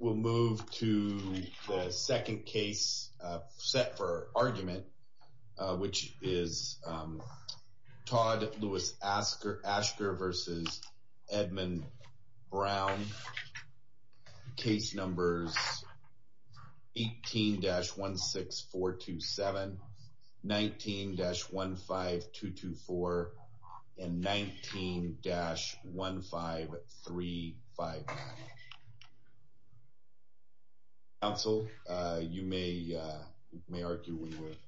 We'll move to the second case set for argument, which is Todd Lewis Asker versus Edmund Brown. Case numbers 18-16427, 19-15224, and 19-15359. So, you may argue when you're ready.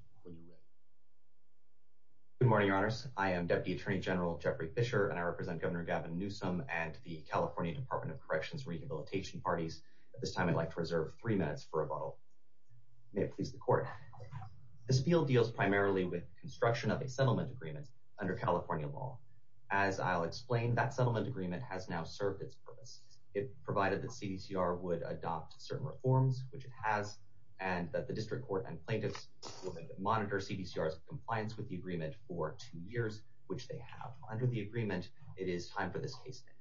Good morning, your honors. I am Deputy Attorney General Jeffrey Fischer, and I represent Governor Gavin Newsom and the California Department of Corrections Rehabilitation Parties. At this time, I'd like to reserve three minutes for rebuttal. May it please the Court. This field deals primarily with construction of a settlement agreement under California law. As I'll explain, that settlement agreement has now served its purpose. It provided that CDCR would adopt certain reforms, which it has, and that the district court and plaintiffs would monitor CDCR's compliance with the agreement for two years, which they have. Under the agreement, it is time for this case to end.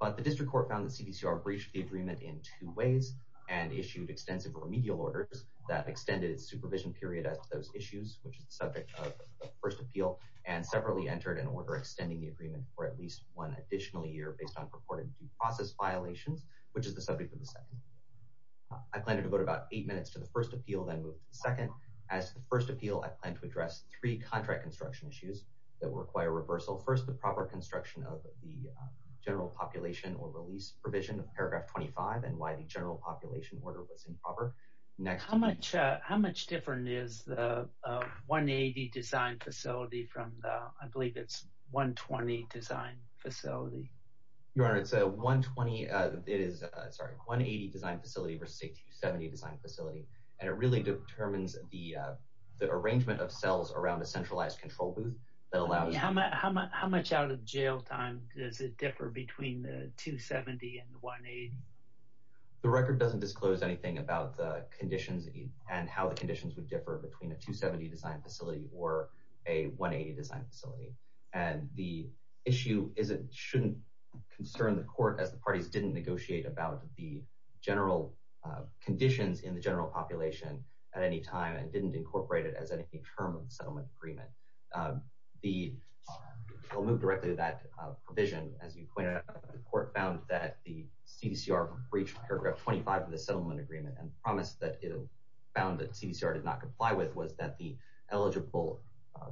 But the district court found that CDCR breached the agreement in two ways, and issued extensive remedial orders that extended its supervision period as to those issues, which is the subject of the first appeal, and separately entered an order extending the agreement for at least one additional year based on purported due process violations, which is the subject of the second appeal. I plan to devote about eight minutes to the first appeal, then move to the second. As to the first appeal, I plan to address three contract construction issues that will require reversal. First, the proper construction of the general population or release provision of paragraph 25, and why the general population order was improper. Next. How much different is the 180 design facility from the, I believe it's 120 design facility? Your Honor, it's a 120, it is, sorry, 180 design facility versus a 270 design facility. And it really determines the arrangement of cells around a centralized control booth that allows- How much out of jail time does it differ between the 270 and the 180? The record doesn't disclose anything about the conditions and how the conditions would differ between a 270 design facility or a 180 design facility. And the issue shouldn't concern the court as the parties didn't negotiate about the general conditions in the general population at any time and didn't incorporate it as any term of the settlement agreement. I'll move directly to that provision. As you pointed out, the court found that the CDCR breached paragraph 25 of the settlement agreement and promised that it found that CDCR did not comply with was that the eligible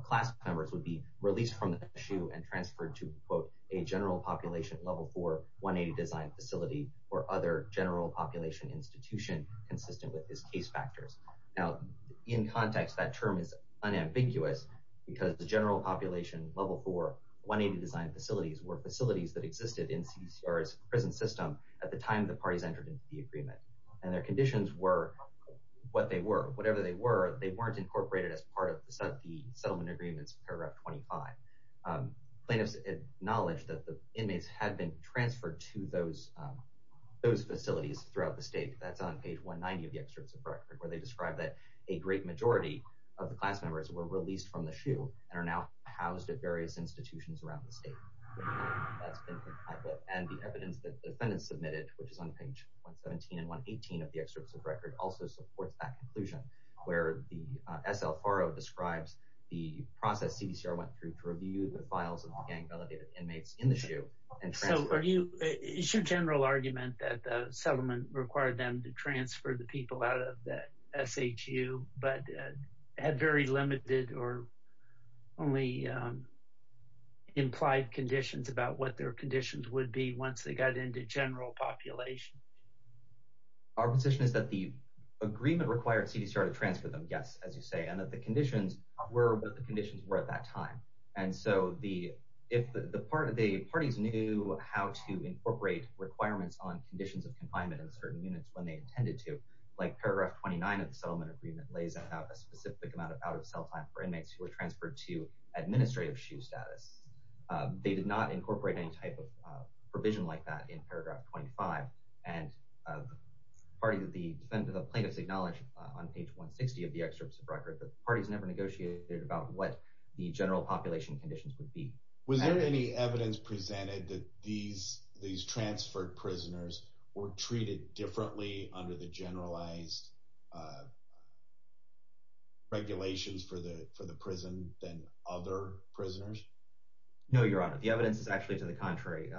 class members would be released from the issue and transferred to a general population level for 180 design facility or other general population institution consistent with his case factors. Now, in context, that term is unambiguous because the general population level for 180 design facilities were facilities that existed in CDCR's prison system at the time the parties entered into the agreement. And their conditions were what they were, whatever they were, they weren't incorporated as part of the settlement agreements, paragraph 25. Plaintiffs acknowledged that the inmates had been transferred to those facilities throughout the state. That's on page 190 of the excerpts of record where they described that a great majority of the class members were released from the shoe and are now housed at various institutions around the state. And the evidence that the defendants submitted, which is on page 117 and 118 of the excerpts of record also supports that conclusion where the S.L. Farrow describes the process CDCR went through to review the files of the gang-validated inmates in the shoe and transfer. So is your general argument that the settlement required them to transfer the people out of the SHU but had very limited or only implied conditions about what their conditions would be once they got into general population? Our position is that the agreement required CDCR to transfer them, yes, as you say, and that the conditions were what the conditions were at that time. And so if the parties knew how to incorporate requirements on conditions of confinement in certain units when they intended to, like paragraph 29 of the settlement agreement lays out a specific amount of out-of-sale time for inmates who were transferred to administrative SHU status. They did not incorporate any type of provision like that in paragraph 25. And the plaintiff's acknowledged on page 160 of the excerpts of record that parties never negotiated about what the general population conditions would be. Was there any evidence presented that these transferred prisoners were treated differently under the generalized regulations for the prison than other prisoners? No, Your Honor. The evidence is actually to the contrary.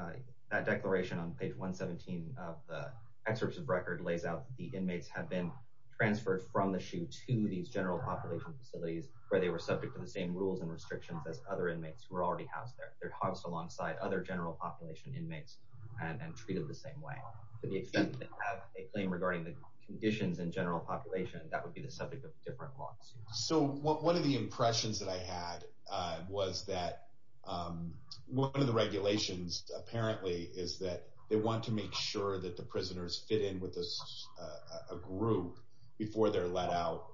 That declaration on page 117 of the excerpts of record lays out that the inmates have been transferred from the SHU to these general population facilities where they were subject to the same rules and restrictions as other inmates who were already housed there. They're housed alongside other general population inmates and treated the same way. To the extent that they have a claim regarding the conditions in general population, that would be the subject of different lawsuits. So one of the impressions that I had was that one of the regulations apparently is that they want to make sure that the prisoners fit in with a group before they're let out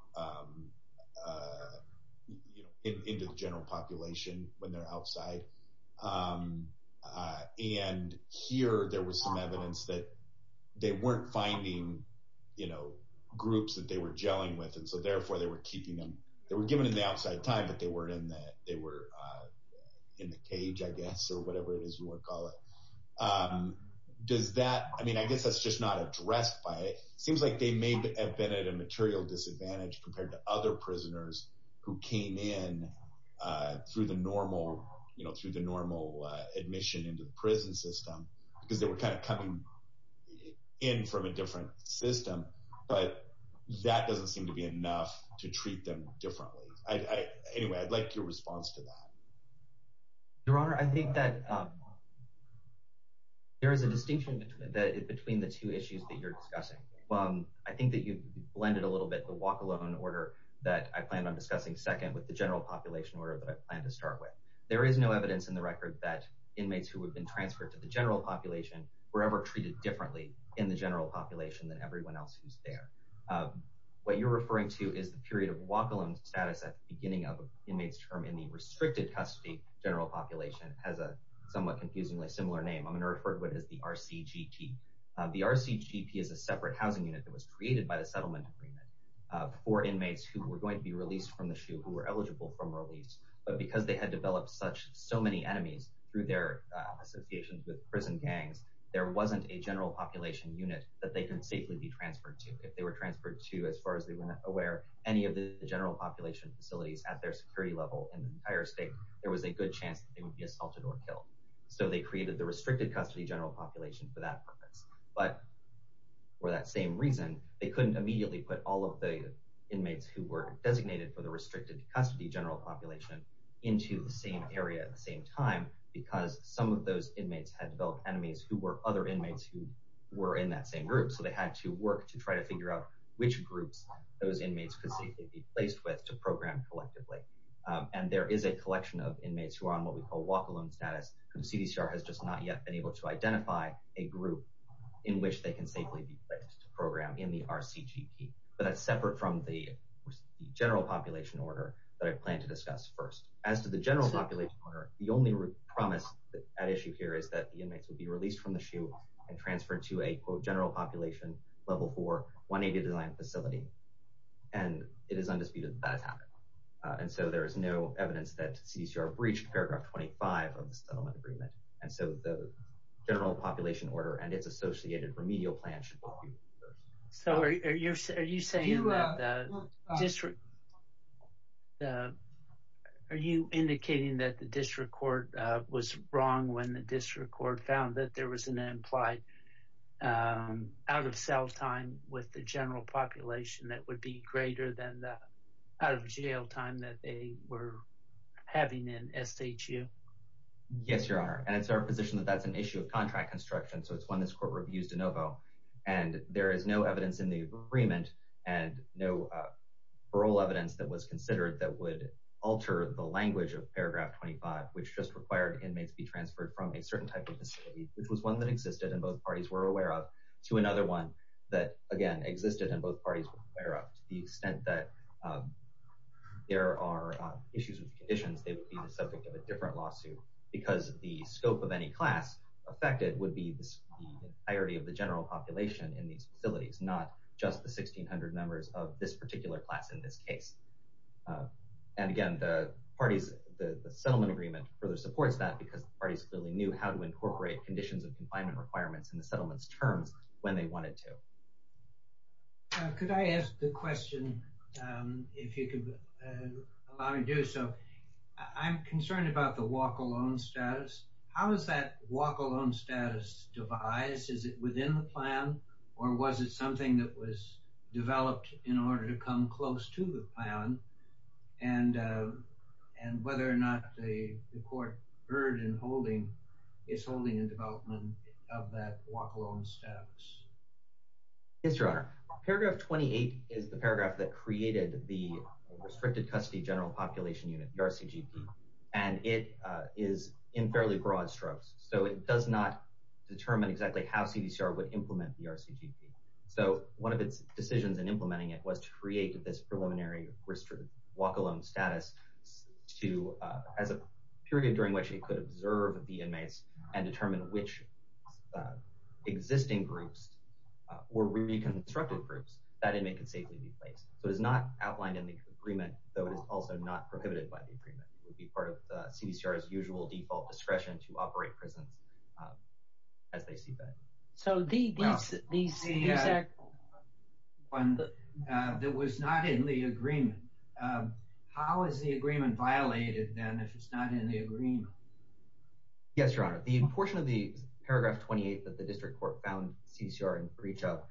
into the general population when they're outside. And here there was some evidence that they weren't finding groups that they were jailing with. And so therefore they were keeping them, they were given in the outside time, but they weren't in the cage, I guess, or whatever it is you want to call it. Does that, I mean, I guess that's just not addressed by it. It seems like they may have been at a material disadvantage compared to other prisoners who came in through the normal admission into the prison system because they were kind of coming in from a different system. But that doesn't seem to be enough to treat them differently. Anyway, I'd like your response to that. Your Honor, I think that there is a distinction between the two issues that you're discussing. I think that you've blended a little bit the walk-alone order that I plan on discussing second with the general population order that I plan to start with. There is no evidence in the record that inmates who have been transferred to the general population were ever treated differently in the general population than everyone else who's there. What you're referring to is the period of walk-alone status at the beginning of an inmate's term in the restricted custody general population has a somewhat confusingly similar name. I'm gonna refer to it as the RCGP. The RCGP is a separate housing unit that was created by the settlement agreement for inmates who were going to be released from the SHU who were eligible from release. But because they had developed so many enemies through their associations with prison gangs, there wasn't a general population unit that they can safely be transferred to. If they were transferred to, as far as they were aware, any of the general population facilities at their security level in the entire state, there was a good chance that they would be assaulted or killed. So they created the restricted custody general population for that purpose. But for that same reason, they couldn't immediately put all of the inmates who were designated for the restricted custody general population into the same area at the same time because some of those inmates had developed enemies who were other inmates who were in that same group. So they had to work to try to figure out which groups those inmates could safely be placed with to program collectively. And there is a collection of inmates who are on what we call walk-alone status who CDCR has just not yet been able to identify a group in which they can safely be placed to program in the RCGP. But that's separate from the general population order that I plan to discuss first. As to the general population order, the only promise at issue here is that the inmates would be released from the SHU and transferred to a quote general population level four 180 design facility. And it is undisputed that that has happened. And so there is no evidence that CDCR breached paragraph 25 of the settlement agreement. And so the general population order and its associated remedial plan should be reviewed first. So are you saying that the district, are you indicating that the district court was wrong when the district court found that there was an implied out of self time with the general population that would be greater than the out of jail time that they were having in SHU? Yes, your honor. And it's our position that that's an issue of contract construction. So it's one that's court reviews de novo. And there is no evidence in the agreement and no parole evidence that was considered that would alter the language of paragraph 25, which just required inmates be transferred from a certain type of facility, which was one that existed in both parties were aware of to another one that again, existed in both parties were aware of the extent that there are issues with conditions, they would be the subject of a different lawsuit because the scope of any class affected would be the entirety of the general population in these facilities, not just the 1600 members of this particular class in this case. And again, the parties, the settlement agreement further supports that because parties clearly knew how to incorporate conditions of confinement requirements in the settlements terms when they wanted to. Could I ask the question, if you could allow me to do so. I'm concerned about the walk alone status. How is that walk alone status devised? Is it within the plan? Or was it something that was developed in order to come close to the plan? And whether or not the court heard in holding it's only in development of that walk alone status. Yes, Your Honor. Paragraph 28 is the paragraph that created the Restricted Custody General Population Unit, the RCGP. And it is in fairly broad strokes. So it does not determine exactly how CDCR would implement the RCGP. So one of its decisions in implementing it was to create this preliminary walk alone status to as a period during which it could observe the inmates and determine which existing groups were reconstructed groups, that inmate can safely be placed. So it is not outlined in the agreement, though it is also not prohibited by the agreement. It would be part of the CDCR's usual default discretion to operate prisons as they see fit. So the exact- No, the one that was not in the agreement. How is the agreement violated then if it's not in the agreement? Yes, Your Honor. The portion of the paragraph 28 that the district court found CCR in breach of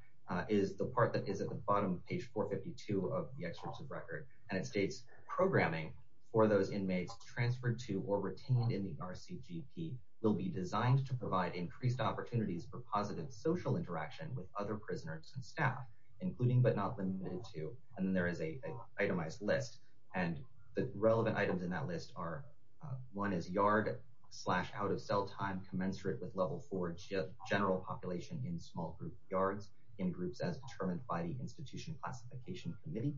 is the part that is at the bottom of page 452 of the excerpt of record. And it states, programming for those inmates transferred to or retained in the RCGP will be designed to provide increased opportunities for positive social interaction with other prisoners and staff, including but not limited to. And then there is a itemized list. And the relevant items in that list are, one is yard slash out-of-cell time commensurate with level four general population in small group yards, in groups as determined by the Institution Classification Committee.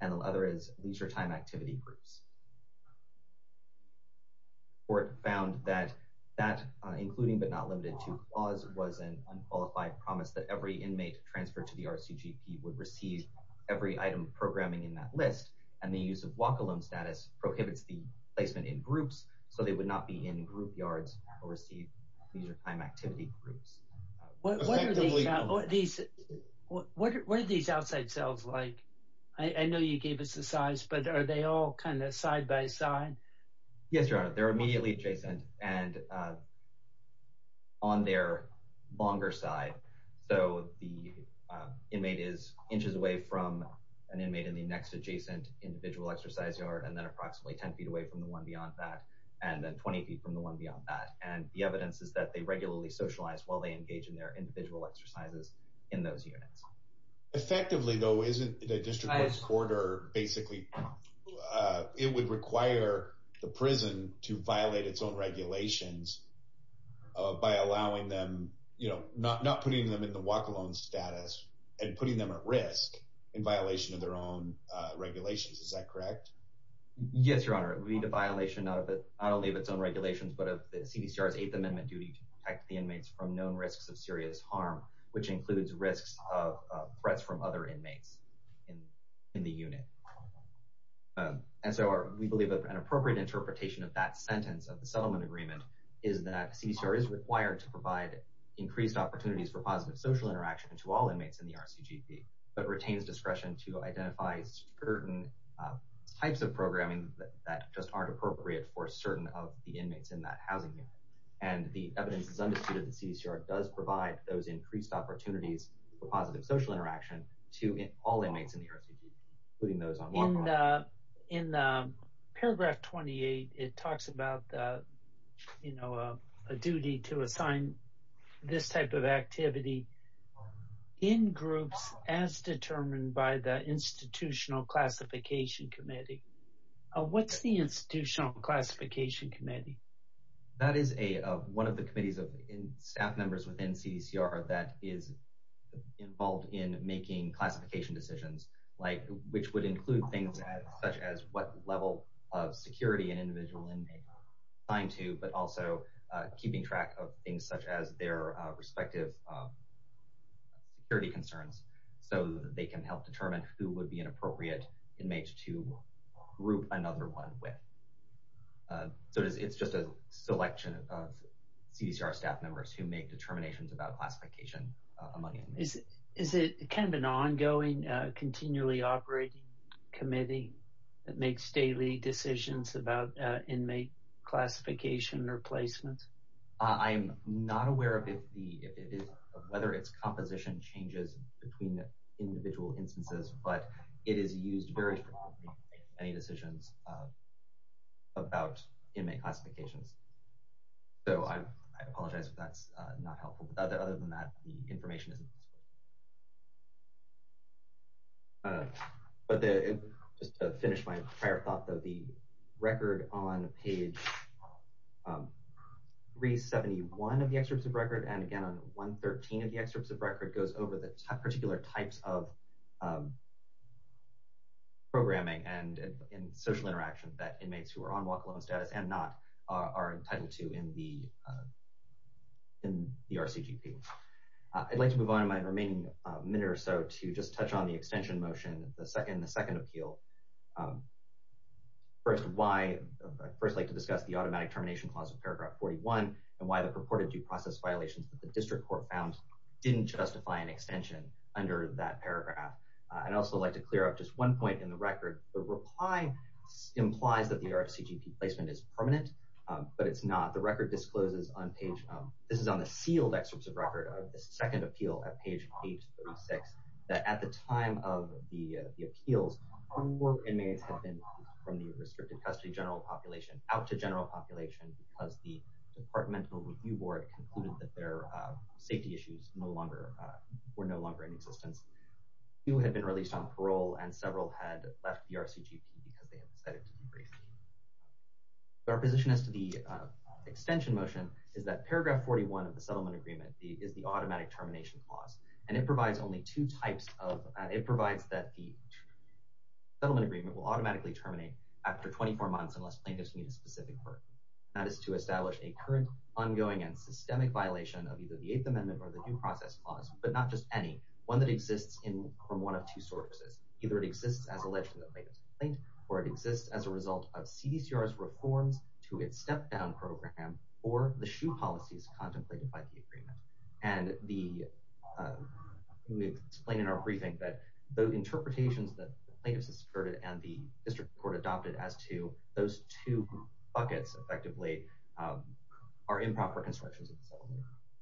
And the other is leisure time activity groups. Court found that that including but not limited to clause was an unqualified promise that every inmate transferred to the RCGP would receive every item of programming in that list. And the use of walk-alone status prohibits the placement in groups, so they would not be in group yards or receive leisure time activity groups. What are these outside cells like? I know you gave us the size, but are they all kind of side by side? Yes, Your Honor, they're immediately adjacent and on their longer side. So the inmate is inches away from an inmate in the next adjacent individual exercise yard, and then approximately 10 feet away from the one beyond that, and then 20 feet from the one beyond that. And the evidence is that they regularly socialize while they engage in their individual exercises in those units. Effectively though, isn't the district court's order basically, it would require the prison to violate its own regulations by allowing them, not putting them in the walk-alone status and putting them at risk in violation of their own regulations. Is that correct? Yes, Your Honor. It would be a violation not only of its own regulations, but of the CDCR's Eighth Amendment duty to protect the inmates from known risks of serious harm, which includes risks of threats from other inmates in the unit. And so we believe that an appropriate interpretation of that sentence of the settlement agreement is that CDCR is required to provide increased opportunities for positive social interaction to all inmates in the RCGP, but retains discretion to identify certain types of programming that just aren't appropriate for certain of the inmates in that housing unit. And the evidence is undisputed that CDCR does provide those increased opportunities for positive social interaction to all inmates in the RCGP, including those on walk-alone. In paragraph 28, it talks about a duty to assign this type of activity in groups as determined by the Institutional Classification Committee. What's the Institutional Classification Committee? That is one of the committees of staff members within CDCR that is involved in making classification decisions, which would include things such as what level of security an individual inmate is assigned to, but also keeping track of things such as their respective security concerns so that they can help determine who would be an appropriate inmate to group another one with. So it's just a selection of CDCR staff members who make determinations about classification among inmates. Is it kind of an ongoing, continually operating committee that makes daily decisions about inmate classification or placement? I'm not aware of whether its composition changes between the individual instances, but it is used very frequently in many decisions about inmate classifications. So I apologize if that's not helpful. Other than that, the information isn't. But just to finish my prior thought though, the record on page 371 of the excerpts of record, and again, on 113 of the excerpts of record goes over the particular types of programming and social interaction that inmates who are on walk-alone status and not are entitled to in the RCGP. I'd like to move on in my remaining minute or so to just touch on the extension motion, the second appeal. First, why I'd first like to discuss the automatic termination clause of paragraph 41 and why the purported due process violations that the district court found didn't justify an extension under that paragraph. I'd also like to clear up just one point in the record. The reply implies that the RCGP placement is permanent, but it's not. The record discloses on page, this is on the sealed excerpts of record of the second appeal at page 836, that at the time of the appeals, four inmates had been released from the restricted custody general population, out to general population because the departmental review board concluded that their safety issues were no longer in existence. Two had been released on parole and several had left the RCGP because they had decided to be released. Our position as to the extension motion is that paragraph 41 of the settlement agreement is the automatic termination clause. And it provides only two types of, it provides that the settlement agreement will automatically terminate after 24 months unless plaintiffs meet a specific burden. That is to establish a current ongoing and systemic violation of either the eighth amendment or the due process clause, but not just any, one that exists from one of two sources, either it exists as alleged in the plaintiff's complaint or it exists as a result of CDCR's reforms to its step down program or the shoe policies contemplated by the agreement. And the, we explain in our briefing that the interpretations that the plaintiffs asserted and the district court adopted as to those two buckets effectively are improper constructions of the settlement.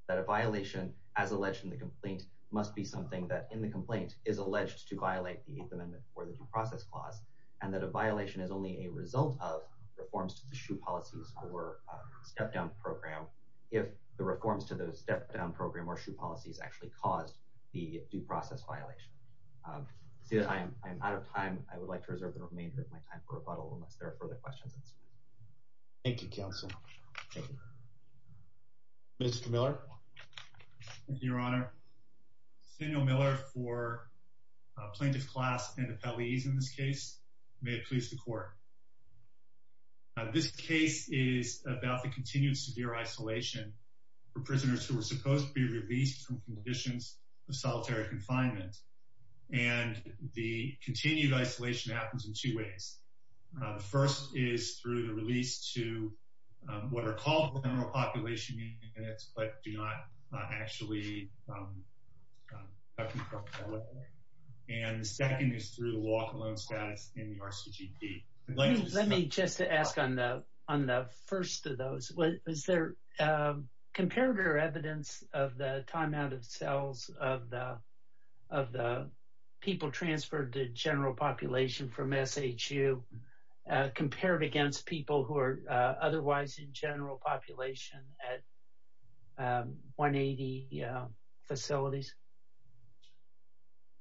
That a violation as alleged in the complaint must be something that in the complaint is alleged to violate the eighth amendment or the due process clause. And that a violation is only a result of reforms to the shoe policies or step down program. If the reforms to those step down program or shoe policies actually caused the due process violation. See that I'm out of time. I would like to reserve the remainder of my time for rebuttal unless there are further questions. Thank you, counsel. Mr. Miller. Thank you, your honor. Samuel Miller for plaintiff class and the police in this case. May it please the court. This case is about the continued severe isolation for prisoners who were supposed to be released from conditions of solitary confinement. And the continued isolation happens in two ways. The first is through the release to what are called general population units but do not actually. And the second is through the walk alone status in the RCGP. Let me just ask on the first of those. Is there comparative evidence of the time out of cells of the people transferred to general population from SHU compared against people who are otherwise in general population at 180 facilities?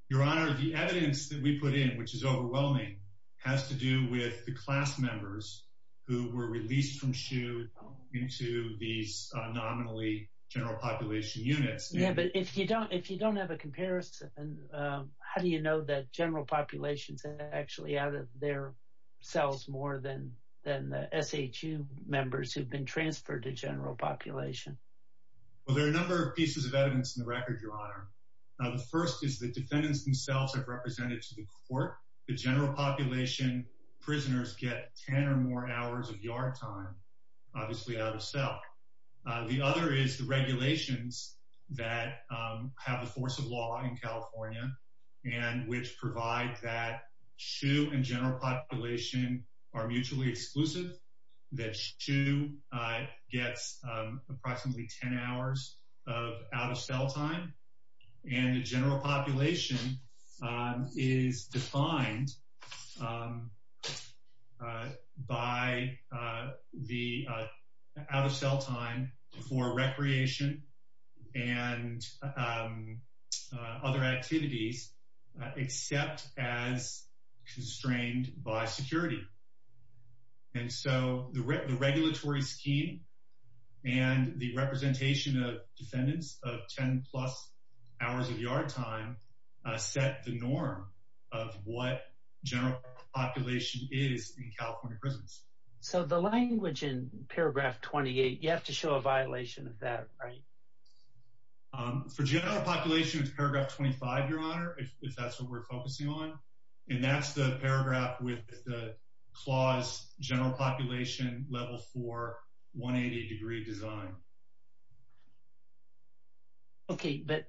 Your honor, the evidence that we put in, which is overwhelming has to do with the class members who were released from SHU into these nominally general population units. Yeah, but if you don't have a comparison, how do you know that general populations are actually out of their cells more than the SHU members who've been transferred to general population? Well, there are a number of pieces of evidence in the record, your honor. Now, the first is the defendants themselves have represented to the court. The general population prisoners get 10 or more hours of yard time, obviously out of cell. The other is the regulations that have the force of law in California and which provide that SHU and general population are mutually exclusive, that SHU gets approximately 10 hours of out of cell time. And the general population is defined by the out of cell time for recreation and other activities, except as constrained by security. And so the regulatory scheme and the representation of defendants of 10 plus hours of yard time set the norm of what general population is in California prisons. So the language in paragraph 28, you have to show a violation of that, right? For general population, it's paragraph 25, your honor, if that's what we're focusing on. And that's the paragraph with the clause general population level four, 180 degree design. Okay, but.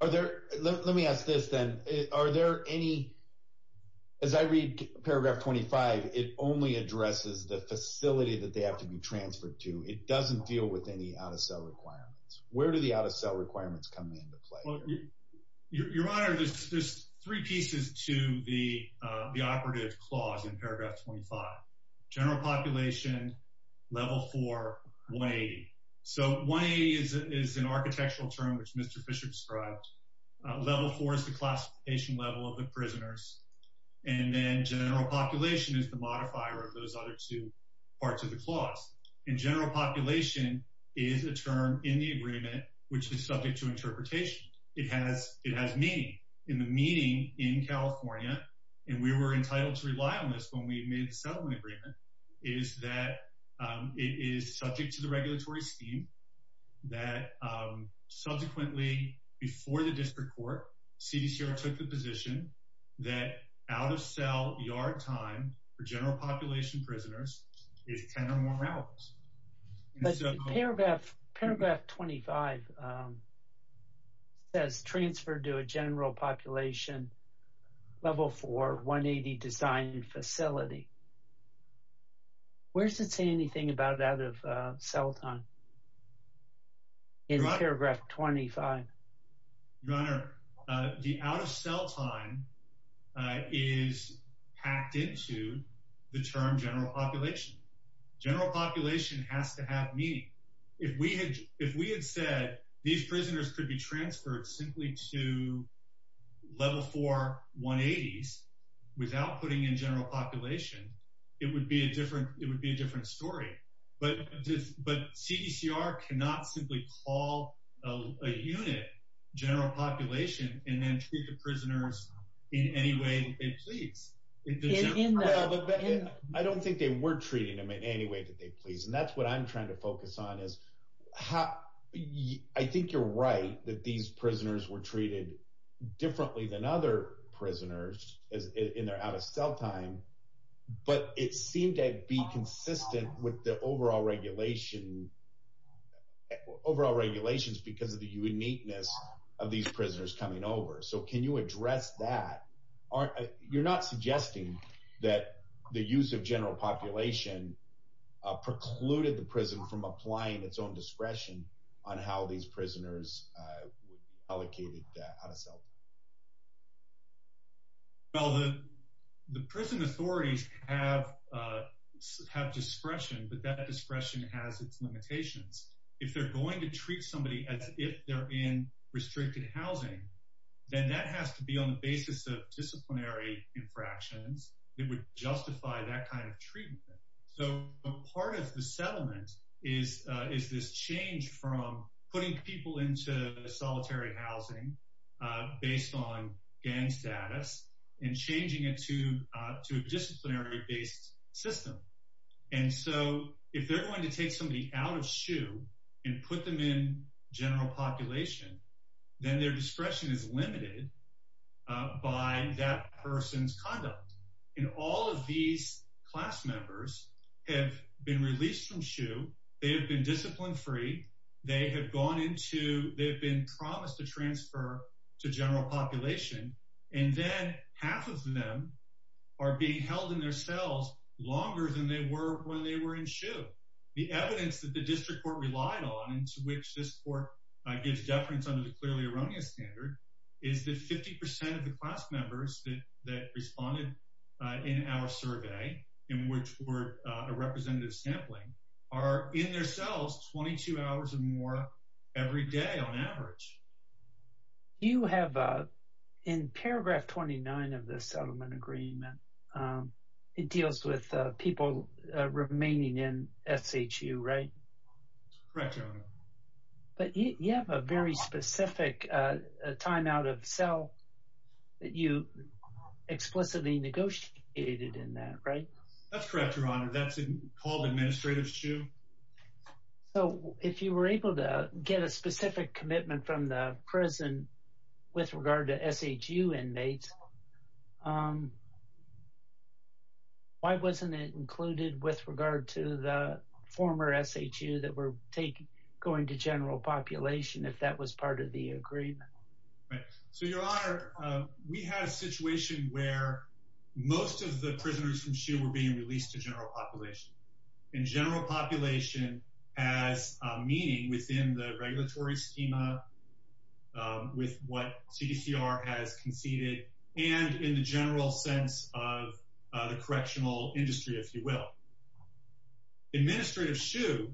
Are there, let me ask this then. Are there any, as I read paragraph 25, it only addresses the facility that they have to be transferred to. It doesn't deal with any out of cell requirements. Where do the out of cell requirements come into play? Your honor, there's three pieces to the operative clause in paragraph 25. General population, level four, 180. So 180 is an architectural term, which Mr. Bishop described. Level four is the classification level of the prisoners. And then general population is the modifier of those other two parts of the clause. And general population is a term in the agreement, which is subject to interpretation. It has meaning. And the meaning in California, and we were entitled to rely on this when we made the settlement agreement, is that it is subject to the regulatory scheme that subsequently before the district court, CDCR took the position that out of cell yard time for general population prisoners is 10 or more hours. And so- Paragraph 25 says transferred to a general population level four, 180 design facility. Where does it say anything about out of cell time? In paragraph 25. Your honor, the out of cell time is packed into the term general population. General population has to have meaning. If we had said these prisoners could be transferred simply to level four, 180s without putting in general population, it would be a different story. But CDCR cannot simply call a unit general population and then treat the prisoners in any way that they please. I don't think they were treating them in any way that they please. And that's what I'm trying to focus on is how... I think you're right that these prisoners were treated differently than other prisoners in their out of cell time, but it seemed to be consistent with the overall regulation, overall regulations because of the uniqueness of these prisoners coming over. So can you address that? You're not suggesting that the use of general population precluded the prison from applying its own discretion on how these prisoners allocated that out of cell time. Well, the prison authorities have discretion, but that discretion has its limitations. If they're going to treat somebody as if they're in restricted housing, then that has to be on the basis of disciplinary infractions that would justify that kind of treatment. So a part of the settlement is this change from putting people into solitary housing based on gang status and changing it to a disciplinary based system. And so if they're going to take somebody out of SHU and put them in general population, then their discretion is limited by that person's conduct. And all of these class members have been released from SHU. They have been discipline free. They have gone into... To general population. And then half of them are being held in their cells longer than they were when they were in SHU. The evidence that the district court relied on and to which this court gives deference under the clearly erroneous standard is that 50% of the class members that responded in our survey, in which were a representative sampling, are in their cells 22 hours or more every day on average. You have, in paragraph 29 of the settlement agreement, it deals with people remaining in SHU, right? Correct, Your Honor. But you have a very specific time out of cell that you explicitly negotiated in that, right? That's correct, Your Honor. That's called administrative SHU. So if you were able to get a specific commitment from the prison with regard to SHU inmates, why wasn't it included with regard to the former SHU that were going to general population if that was part of the agreement? Right, so Your Honor, we had a situation where most of the prisoners from SHU And general population has a meaning within the regulatory schema with what CDCR has conceded and in the general sense of the correctional industry, if you will. Administrative SHU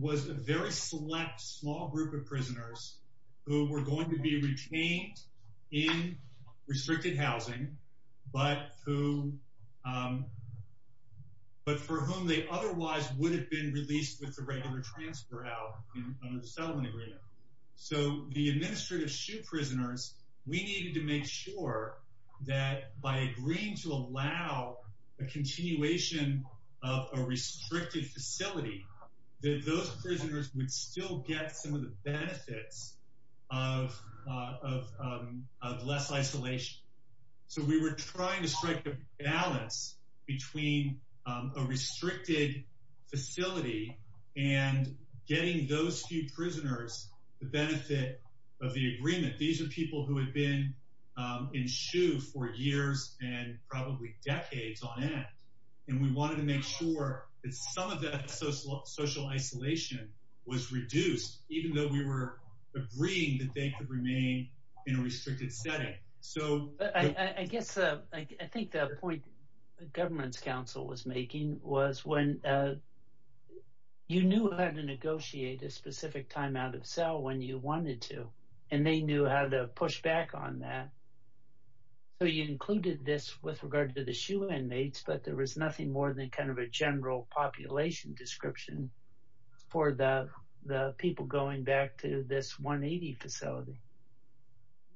was a very select small group of prisoners who were going to be retained in restricted housing, but for whom they otherwise would have been released with the regular transfer out of the settlement agreement. So the administrative SHU prisoners, we needed to make sure that by agreeing to allow a continuation of a restricted facility, that those prisoners would still get some of the benefits of less isolation. So we were trying to strike a balance between a restricted facility and getting those few prisoners the benefit of the agreement. These are people who had been in SHU for years and probably decades on end. And we wanted to make sure that some of that social isolation was reduced, even though we were agreeing that they could remain in a restricted setting. I guess, I think the point the government's council was making was when you knew how to negotiate a specific time out of cell when you wanted to, and they knew how to push back on that. So you included this with regard to the SHU inmates, but there was nothing more than kind of a general population description for the people going back to this 180 facility.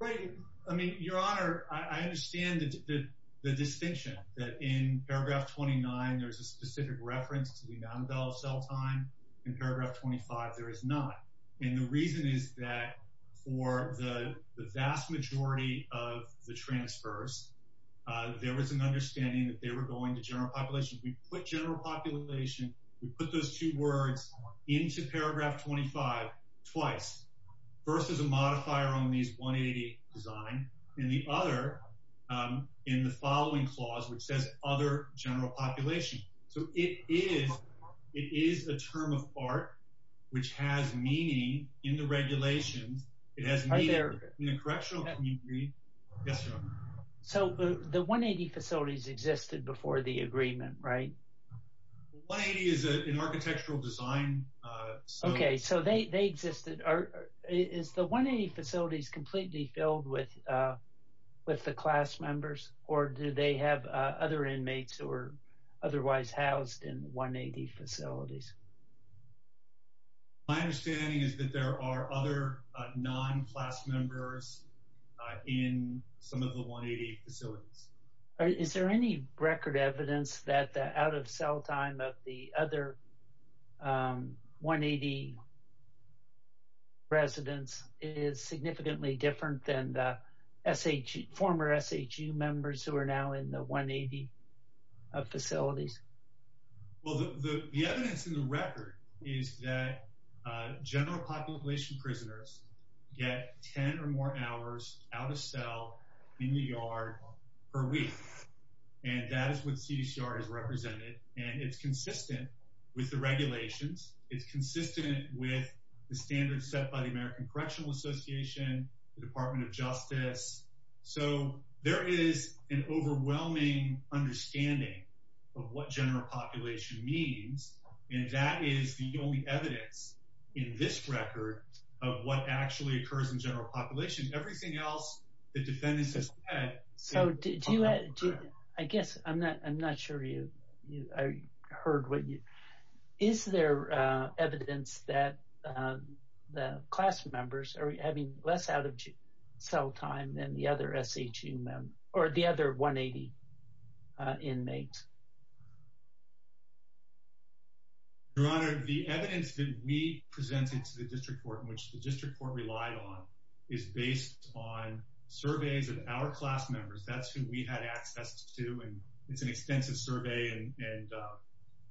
Right, I mean, your honor, I understand the distinction that in paragraph 29, there's a specific reference to the amount of cell time, in paragraph 25, there is not. And the reason is that for the vast majority of the transfers, there was an understanding that they were going to general population. We put general population, we put those two words into paragraph 25 twice, first as a modifier on these 180 design, and the other in the following clause, which says other general population. So it is a term of art, which has meaning in the regulations, it has meaning in the correctional. So the 180 facilities existed before the agreement, right? 180 is an architectural design. Okay, so they existed, is the 180 facilities completely filled with the class members, or do they have other inmates who are otherwise housed in 180 facilities? My understanding is that there are other non-class members in some of the 180 facilities. Is there any record evidence that the out of cell time of the other 180 residents is significantly different than the former SHU members who are now in the 180 facilities? Well, the evidence in the record is that general population prisoners get 10 or more hours out of cell in the yard per week. And that is what CDCR has represented. And it's consistent with the regulations. It's consistent with the standards set by the American Correctional Association, the Department of Justice. So there is an overwhelming understanding of what general population means. And that is the only evidence in this record of what actually occurs in general population. Everything else, the defendants has said. So do you, I guess, I'm not sure you heard what you, is there evidence that the class members are having less out of cell time than the other SHU members, or the other 180 inmates? Your Honor, the evidence that we presented to the district court, which the district court relied on, is based on surveys of our class members. That's who we had access to. And it's an extensive survey, and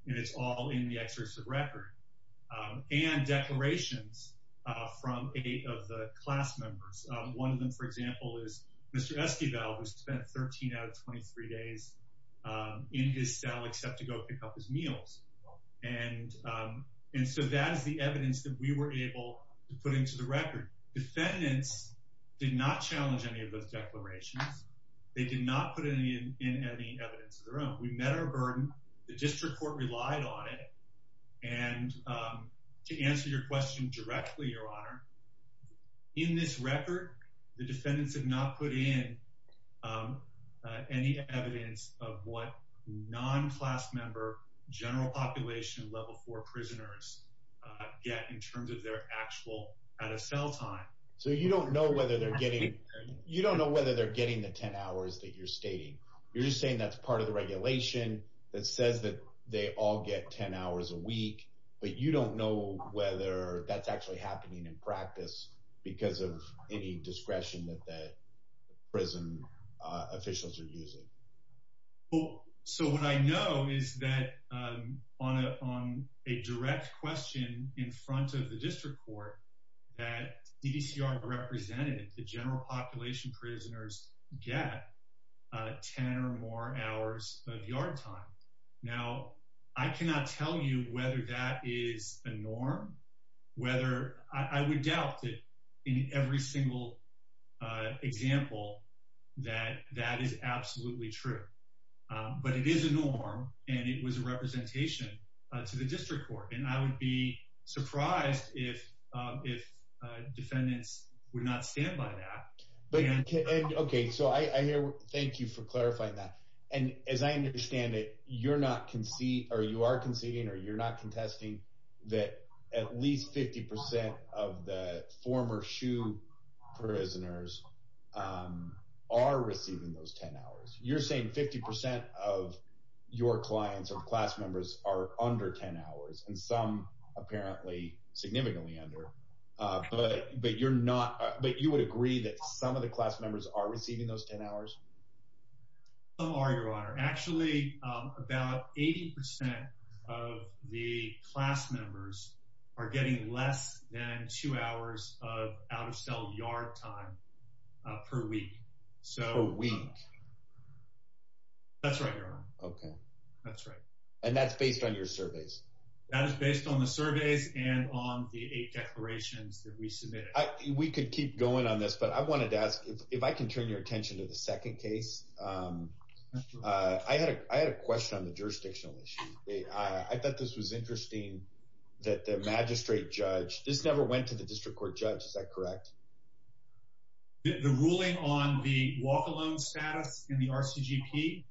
it's all in the exercise of record. And declarations from eight of the class members. One of them, for example, is Mr. Esquivel, who spent 13 out of 23 days in his cell except to go pick up his meals. And so that is the evidence that we were able to put into the record. Defendants did not challenge any of those declarations. They did not put in any evidence of their own. We met our burden. The district court relied on it. And to answer your question directly, Your Honor, in this record, the defendants have not put in any evidence of what non-class member general population level four prisoners get in terms of their actual out-of-cell time. So you don't know whether they're getting, you don't know whether they're getting the 10 hours that you're stating. You're just saying that's part of the regulation that says that they all get 10 hours a week, but you don't know whether that's actually happening in practice because of any discretion that the prison officials are using. So what I know is that on a direct question in front of the district court, that DDCR represented the general population prisoners get 10 or more hours of yard time. Now, I cannot tell you whether that is a norm, whether, I would doubt that in every single example, that that is absolutely true, but it is a norm and it was a representation to the district court. And I would be surprised if defendants would not stand by that. But, okay, so I hear, thank you for clarifying that. And as I understand it, you're not conceding or you are conceding or you're not contesting that at least 50% of the former SHU prisoners are receiving those 10 hours. You're saying 50% of your clients or class members are under 10 hours and some apparently significantly under, but you're not, but you would agree that some of the class members are receiving those 10 hours? Some are, your honor. Actually about 80% of the class members are getting less than two hours of out-of-cell yard time per week. So, that's right, your honor. Okay. That's right. And that's based on your surveys. That is based on the surveys and on the eight declarations that we submitted. We could keep going on this, but I wanted to ask if I can turn your attention to the second case. I had a question on the jurisdictional issue. I thought this was interesting that the magistrate judge, this never went to the district court judge. Is that correct? The ruling on the walk-alone status in the RCGP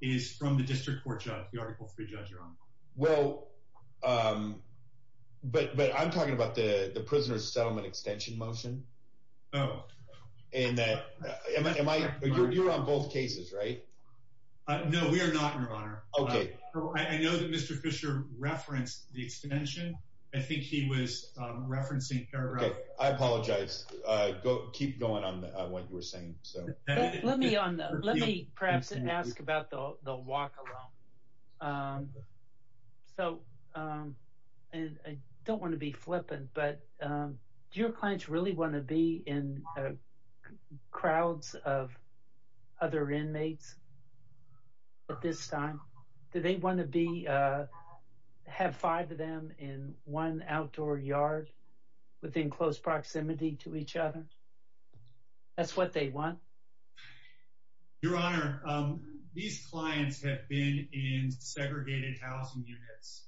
is from the district court judge, the article three judge, your honor. Well, but I'm talking about the prisoner's settlement extension motion. Oh. And am I, you're on both cases, right? No, we are not, your honor. Okay. I know that Mr. Fisher referenced the extension. I think he was referencing paragraph- Okay, I apologize. Keep going on what you were saying, so. Let me perhaps ask about the walk-alone. So, and I don't want to be flippant, but do your clients really want to be in crowds of other inmates at this time? Do they want to be, have five of them in one outdoor yard within close proximity to each other? That's what they want? Your honor, these clients have been in segregated housing units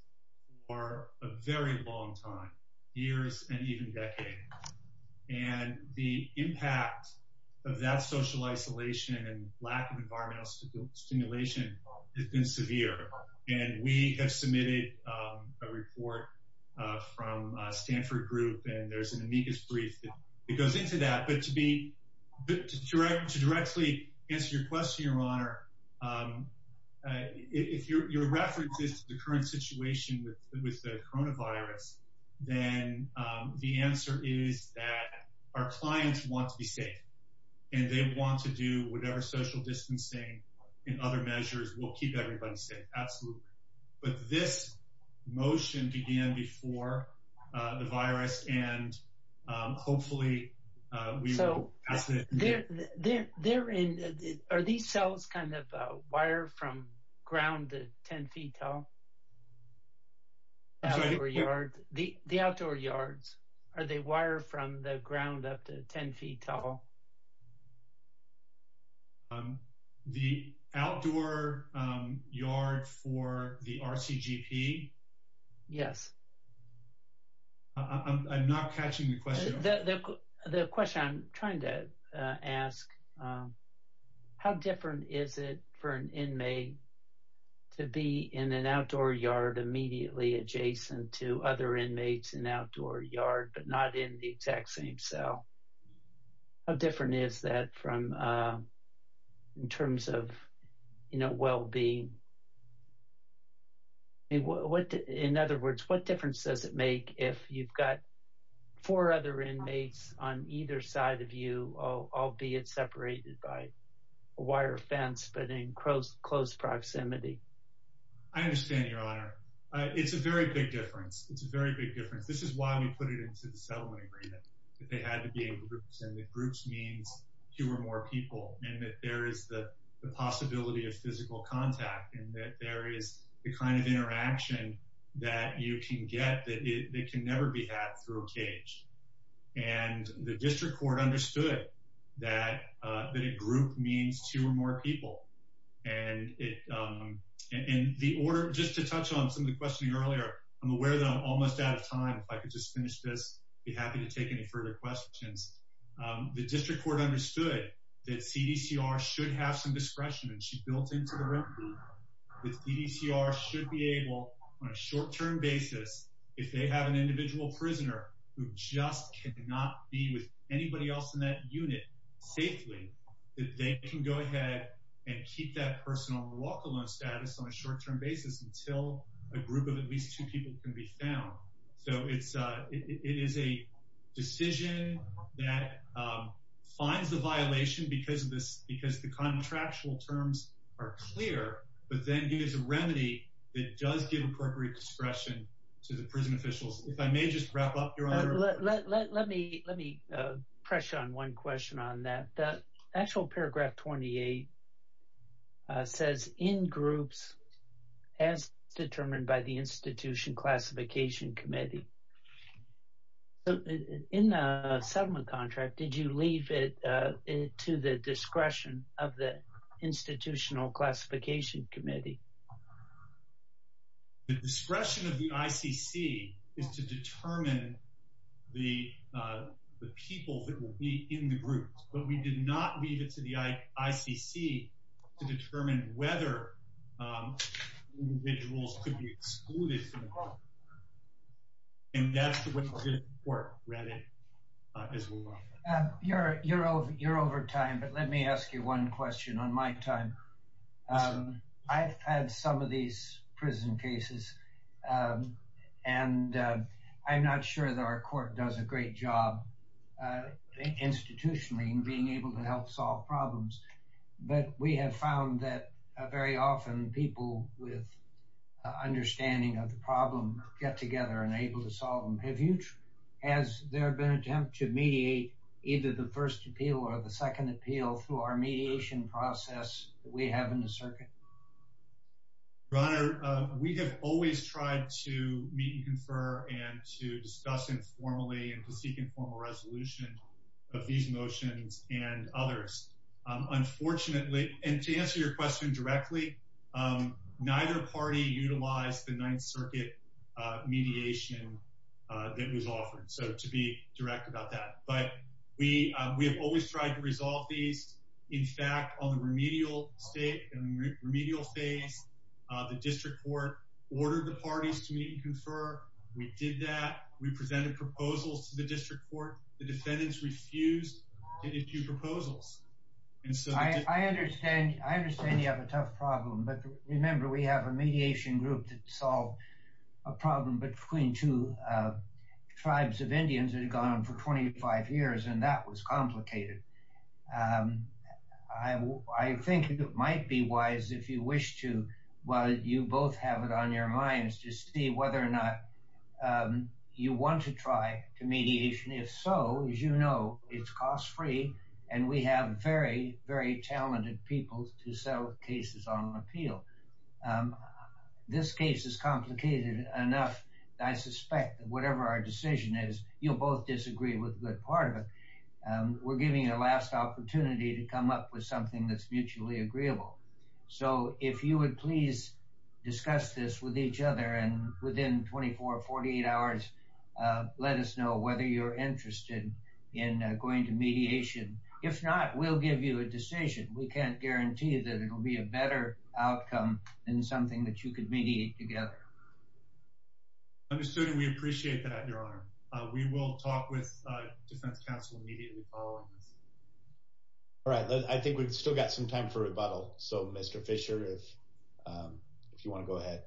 for a very long time, years and even decades. And the impact of that social isolation and lack of environmental stimulation has been severe. And we have submitted a report from a Stanford group and there's an amicus brief that goes into that. But to directly answer your question, your honor, if your reference is to the current situation with the coronavirus, then the answer is that our clients want to be safe and they want to do whatever social distancing and other measures will keep everybody safe, absolutely. But this motion began before the virus and hopefully we will pass it. They're in, are these cells kind of a wire from ground to 10 feet tall? Outdoor yard, the outdoor yards, are they wire from the ground up to 10 feet tall? The outdoor yard for the RCGP? Yes. I'm not catching the question. The question I'm trying to ask, how different is it for an inmate to be in an outdoor yard immediately adjacent to other inmates in outdoor yard, but not in the exact same cell? How different is that from, in terms of, you know, well-being? In other words, what difference does it make if you've got four other inmates on either side of you, albeit separated by a wire fence, but in close proximity? I understand, your honor. It's a very big difference. It's a very big difference. This is why we put it into the settlement agreement that they had to be in groups, and that groups means two or more people, and that there is the possibility of physical contact, and that there is the kind of interaction that you can get that can never be had through a cage. And the district court understood that a group means two or more people. And just to touch on some of the questioning earlier, I'm aware that I'm almost out of time. If I could just finish this, I'd be happy to take any further questions. The district court understood that CDCR should have some discretion, and she built into the remedy that CDCR should be able, on a short-term basis, if they have an individual prisoner who just cannot be with anybody else in that unit safely, that they can go ahead and keep that person on a walk-alone status on a short-term basis until a group of at least two people can be found. So it is a decision that finds the violation because the contractual terms are clear, but then gives a remedy that does give appropriate discretion to the prison officials. If I may just wrap up, Your Honor. Let me press you on one question on that. The actual paragraph 28 says, in groups as determined by the Institution Classification Committee. So in the settlement contract, did you leave it to the discretion of the Institutional Classification Committee? The discretion of the ICC is to determine the people that will be in the groups, but we did not leave it to the ICC to determine whether individuals could be excluded. And that's what the court read it as well. You're over time, but let me ask you one question on my time. I've had some of these prison cases, and I'm not sure that our court does a great job institutionally in being able to help solve problems. But we have found that very often, people with understanding of the problem get together and able to solve them. Have you, has there been an attempt to mediate either the first appeal or the second appeal through our mediation process that we have in the circuit? Your Honor, we have always tried to meet and confer and to discuss informally and to seek informal resolution of these motions and others. Unfortunately, and to answer your question directly, neither party utilized the Ninth Circuit mediation that was offered, so to be direct about that. But we have always tried to resolve these. In fact, on the remedial state and remedial phase, the district court ordered the parties to meet and confer. We did that. We presented proposals to the district court. The defendants refused to issue proposals. And so- I understand you have a tough problem, but remember, we have a mediation group that solved a problem between two tribes of Indians that had gone on for 25 years, and that was complicated. I think it might be wise if you wish to, while you both have it on your minds, to see whether or not you want to try to mediation. If so, as you know, it's cost-free, and we have very, very talented people to settle cases on an appeal. This case is complicated enough. I suspect that whatever our decision is, you'll both disagree with a good part of it. We're giving you a last opportunity to come up with something that's mutually agreeable. So if you would please discuss this with each other, and within 24, 48 hours, let us know whether you're interested in going to mediation. If not, we'll give you a decision. We can't guarantee that it'll be a better outcome than something that you could mediate together. Understood, and we appreciate that, Your Honor. We will talk with defense counsel immediately following this. All right, I think we've still got some time for rebuttal. So Mr. Fisher, if you want to go ahead.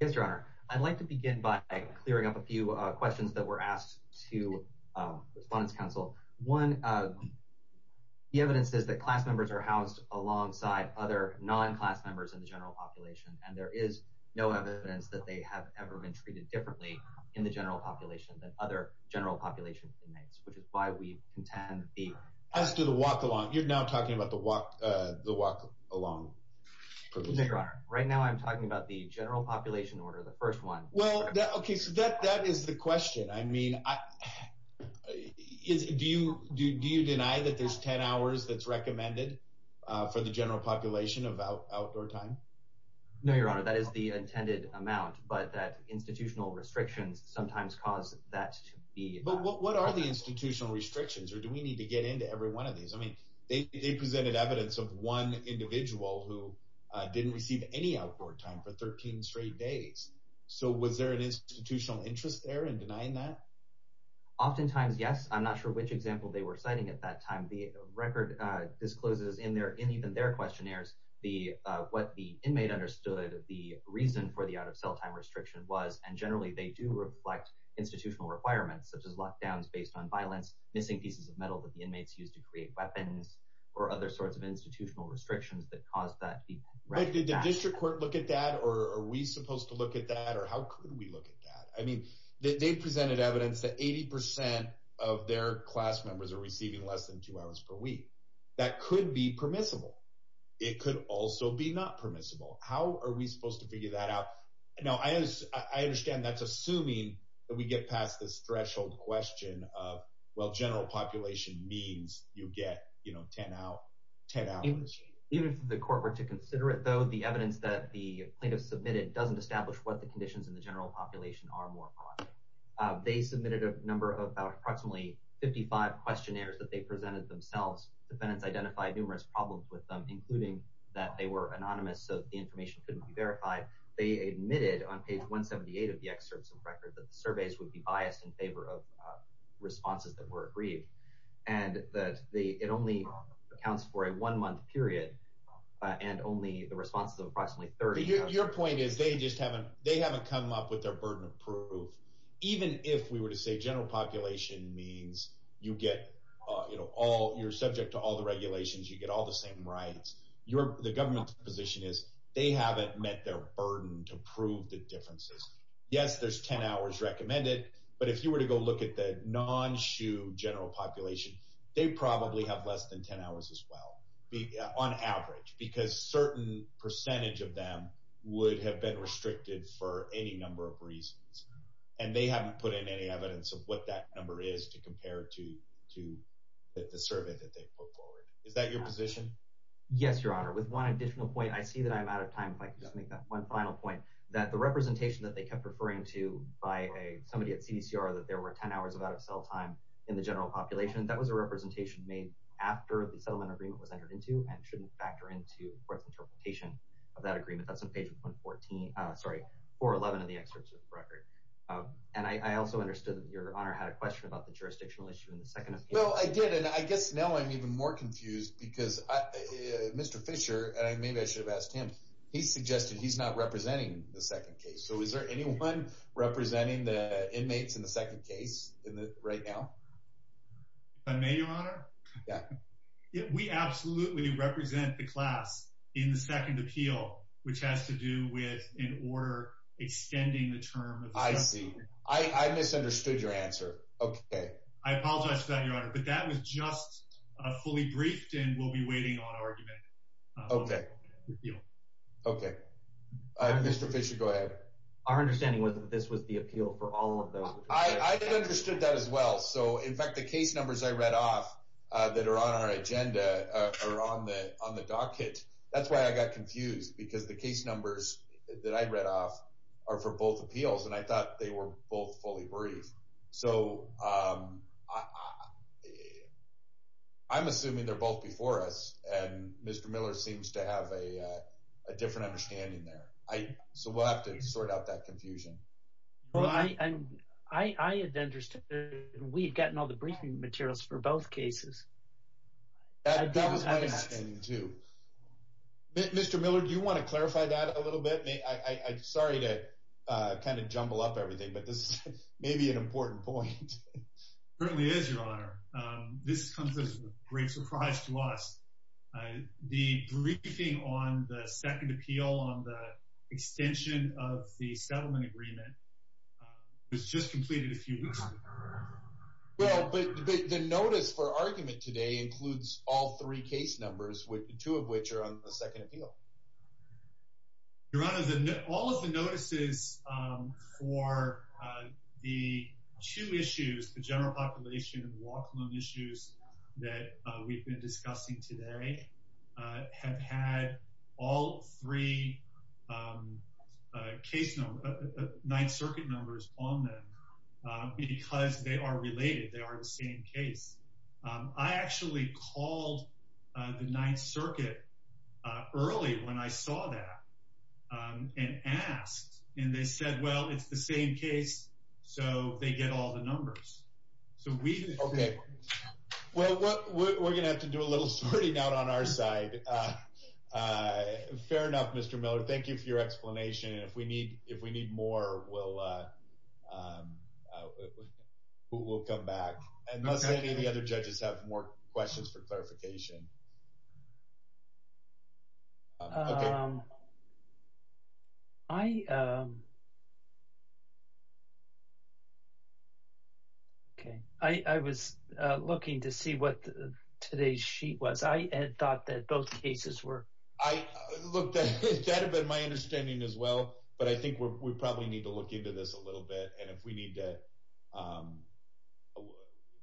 Yes, Your Honor. I'd like to begin by clearing up a few questions that were asked to the defense counsel. One, the evidence says that class members are housed alongside other non-class members in the general population, and there is no evidence that they have ever been treated differently in the general population than other general population inmates, which is why we contend the- As to the walk-along, you're now talking about the walk-along provision. No, Your Honor. Right now I'm talking about the general population order, the first one. Well, okay, so that is the question. I mean, do you deny that there's 10 hours that's recommended for the general population of outdoor time? No, Your Honor, that is the intended amount, but that institutional restrictions sometimes cause that to be- But what are the institutional restrictions, or do we need to get into every one of these? They presented evidence of one individual who didn't receive any outdoor time for 13 straight days, so was there an institutional interest there in denying that? Oftentimes, yes. I'm not sure which example they were citing at that time. The record discloses in even their questionnaires what the inmate understood the reason for the out-of-cell time restriction was, and generally they do reflect institutional requirements such as lockdowns based on violence, missing pieces of metal that the inmates used to create weapons, or other sorts of institutional restrictions that caused that to be- Right, did the district court look at that, or are we supposed to look at that, or how could we look at that? I mean, they presented evidence that 80% of their class members are receiving less than two hours per week. That could be permissible. It could also be not permissible. How are we supposed to figure that out? Now, I understand that's assuming that we get past this threshold question of, well, general population means you get 10 hours. Even if the court were to consider it, though, the evidence that the plaintiff submitted doesn't establish what the conditions in the general population are more broadly. They submitted a number of approximately 55 questionnaires that they presented themselves. Defendants identified numerous problems with them, including that they were anonymous so that the information couldn't be verified. They admitted on page 178 of the excerpts of the record that the surveys would be biased in favor of responses that were agreed, and that it only accounts for a one-month period, and only the responses of approximately 30. Your point is they just haven't, they haven't come up with their burden of proof. Even if we were to say general population means you get all, you're subject to all the regulations, you get all the same rights, the government's position is they haven't met their burden to prove the differences. Yes, there's 10 hours recommended, but if you were to go look at the non-SHU general population, they probably have less than 10 hours as well, on average, because certain percentage of them would have been restricted for any number of reasons, and they haven't put in any evidence of what that number is to compare to the survey that they put forward. Is that your position? Yes, Your Honor, with one additional point, I see that I'm out of time, if I could just make that one final point, that the representation that they kept referring to by somebody at CDCR that there were 10 hours of out-of-cell time in the general population, that was a representation made after the settlement agreement was entered into, and shouldn't factor into court's interpretation of that agreement, that's on page 114, sorry, 411 of the excerpt of the record. And I also understood that Your Honor had a question about the jurisdictional issue in the second case. Well, I did, and I guess now I'm even more confused because Mr. Fisher, and maybe I should have asked him, he suggested he's not representing the second case, so is there anyone representing the inmates in the second case right now? If I may, Your Honor? Yeah. We absolutely represent the class in the second appeal, which has to do with an order extending the term. I see, I misunderstood your answer, okay. I apologize for that, Your Honor, but that was just fully briefed and we'll be waiting on argument. Okay, okay. Mr. Fisher, go ahead. Our understanding was that this was the appeal for all of those. I understood that as well, so in fact, the case numbers I read off that are on our agenda are on the docket. That's why I got confused, because the case numbers that I read off are for both appeals, and I thought they were both fully briefed. So I'm assuming they're both before us, and Mr. Miller seems to have a different understanding there. So we'll have to sort out that confusion. Well, I had understood that we'd gotten all the briefing materials for both cases. That was my understanding, too. Mr. Miller, do you want to clarify that a little bit? Sorry to kind of jumble up everything, but this may be an important point. It certainly is, Your Honor. This comes as a great surprise to us. The briefing on the second appeal on the extension of the settlement agreement was just completed a few weeks ago. Well, but the notice for argument today includes all three case numbers, two of which are on the second appeal. Your Honor, all of the notices for the two issues, the general population and walk-alone issues that we've been discussing today have had all three case number, Ninth Circuit numbers on them, because they are related, they are the same case. I actually called the Ninth Circuit early when I saw that and asked, and they said, well, it's the same case, so they get all the numbers. So we... Okay, well, we're gonna have to do a little sorting out on our side. Fair enough, Mr. Miller. Thank you for your explanation, and if we need more, we'll come back. And must any of the other judges have more questions for clarification? Okay. Okay, I was looking to see what today's sheet was. I had thought that both cases were... I looked at it, that had been my understanding as well, but I think we probably need to look into this a little bit, and if we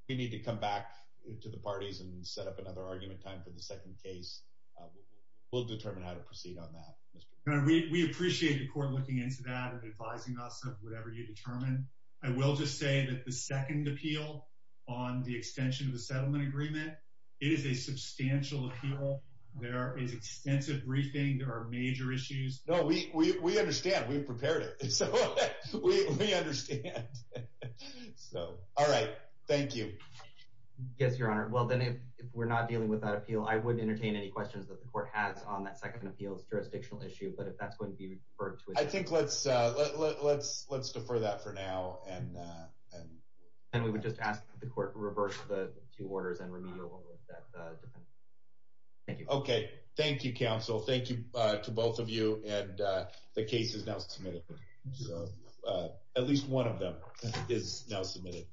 need to come back to the parties and set up another argument time for the second case, we'll determine how to proceed on that, Mr. Miller. We appreciate the court looking into that and advising us of whatever you determine. I will just say that the second appeal on the extension of the settlement agreement, it is a substantial appeal. There is extensive briefing. There are major issues. No, we understand. We've prepared it. So we understand. So, all right, thank you. Yes, Your Honor. Well, then if we're not dealing with that appeal, I wouldn't entertain any questions that the court has on that second appeal's jurisdictional issue, but if that's going to be referred to- I think let's defer that for now, and... And we would just ask that the court reverse the two orders and remediate one with that defense. Thank you. Okay, thank you, counsel. Thank you to both of you, and the case is now submitted. At least one of them is now submitted.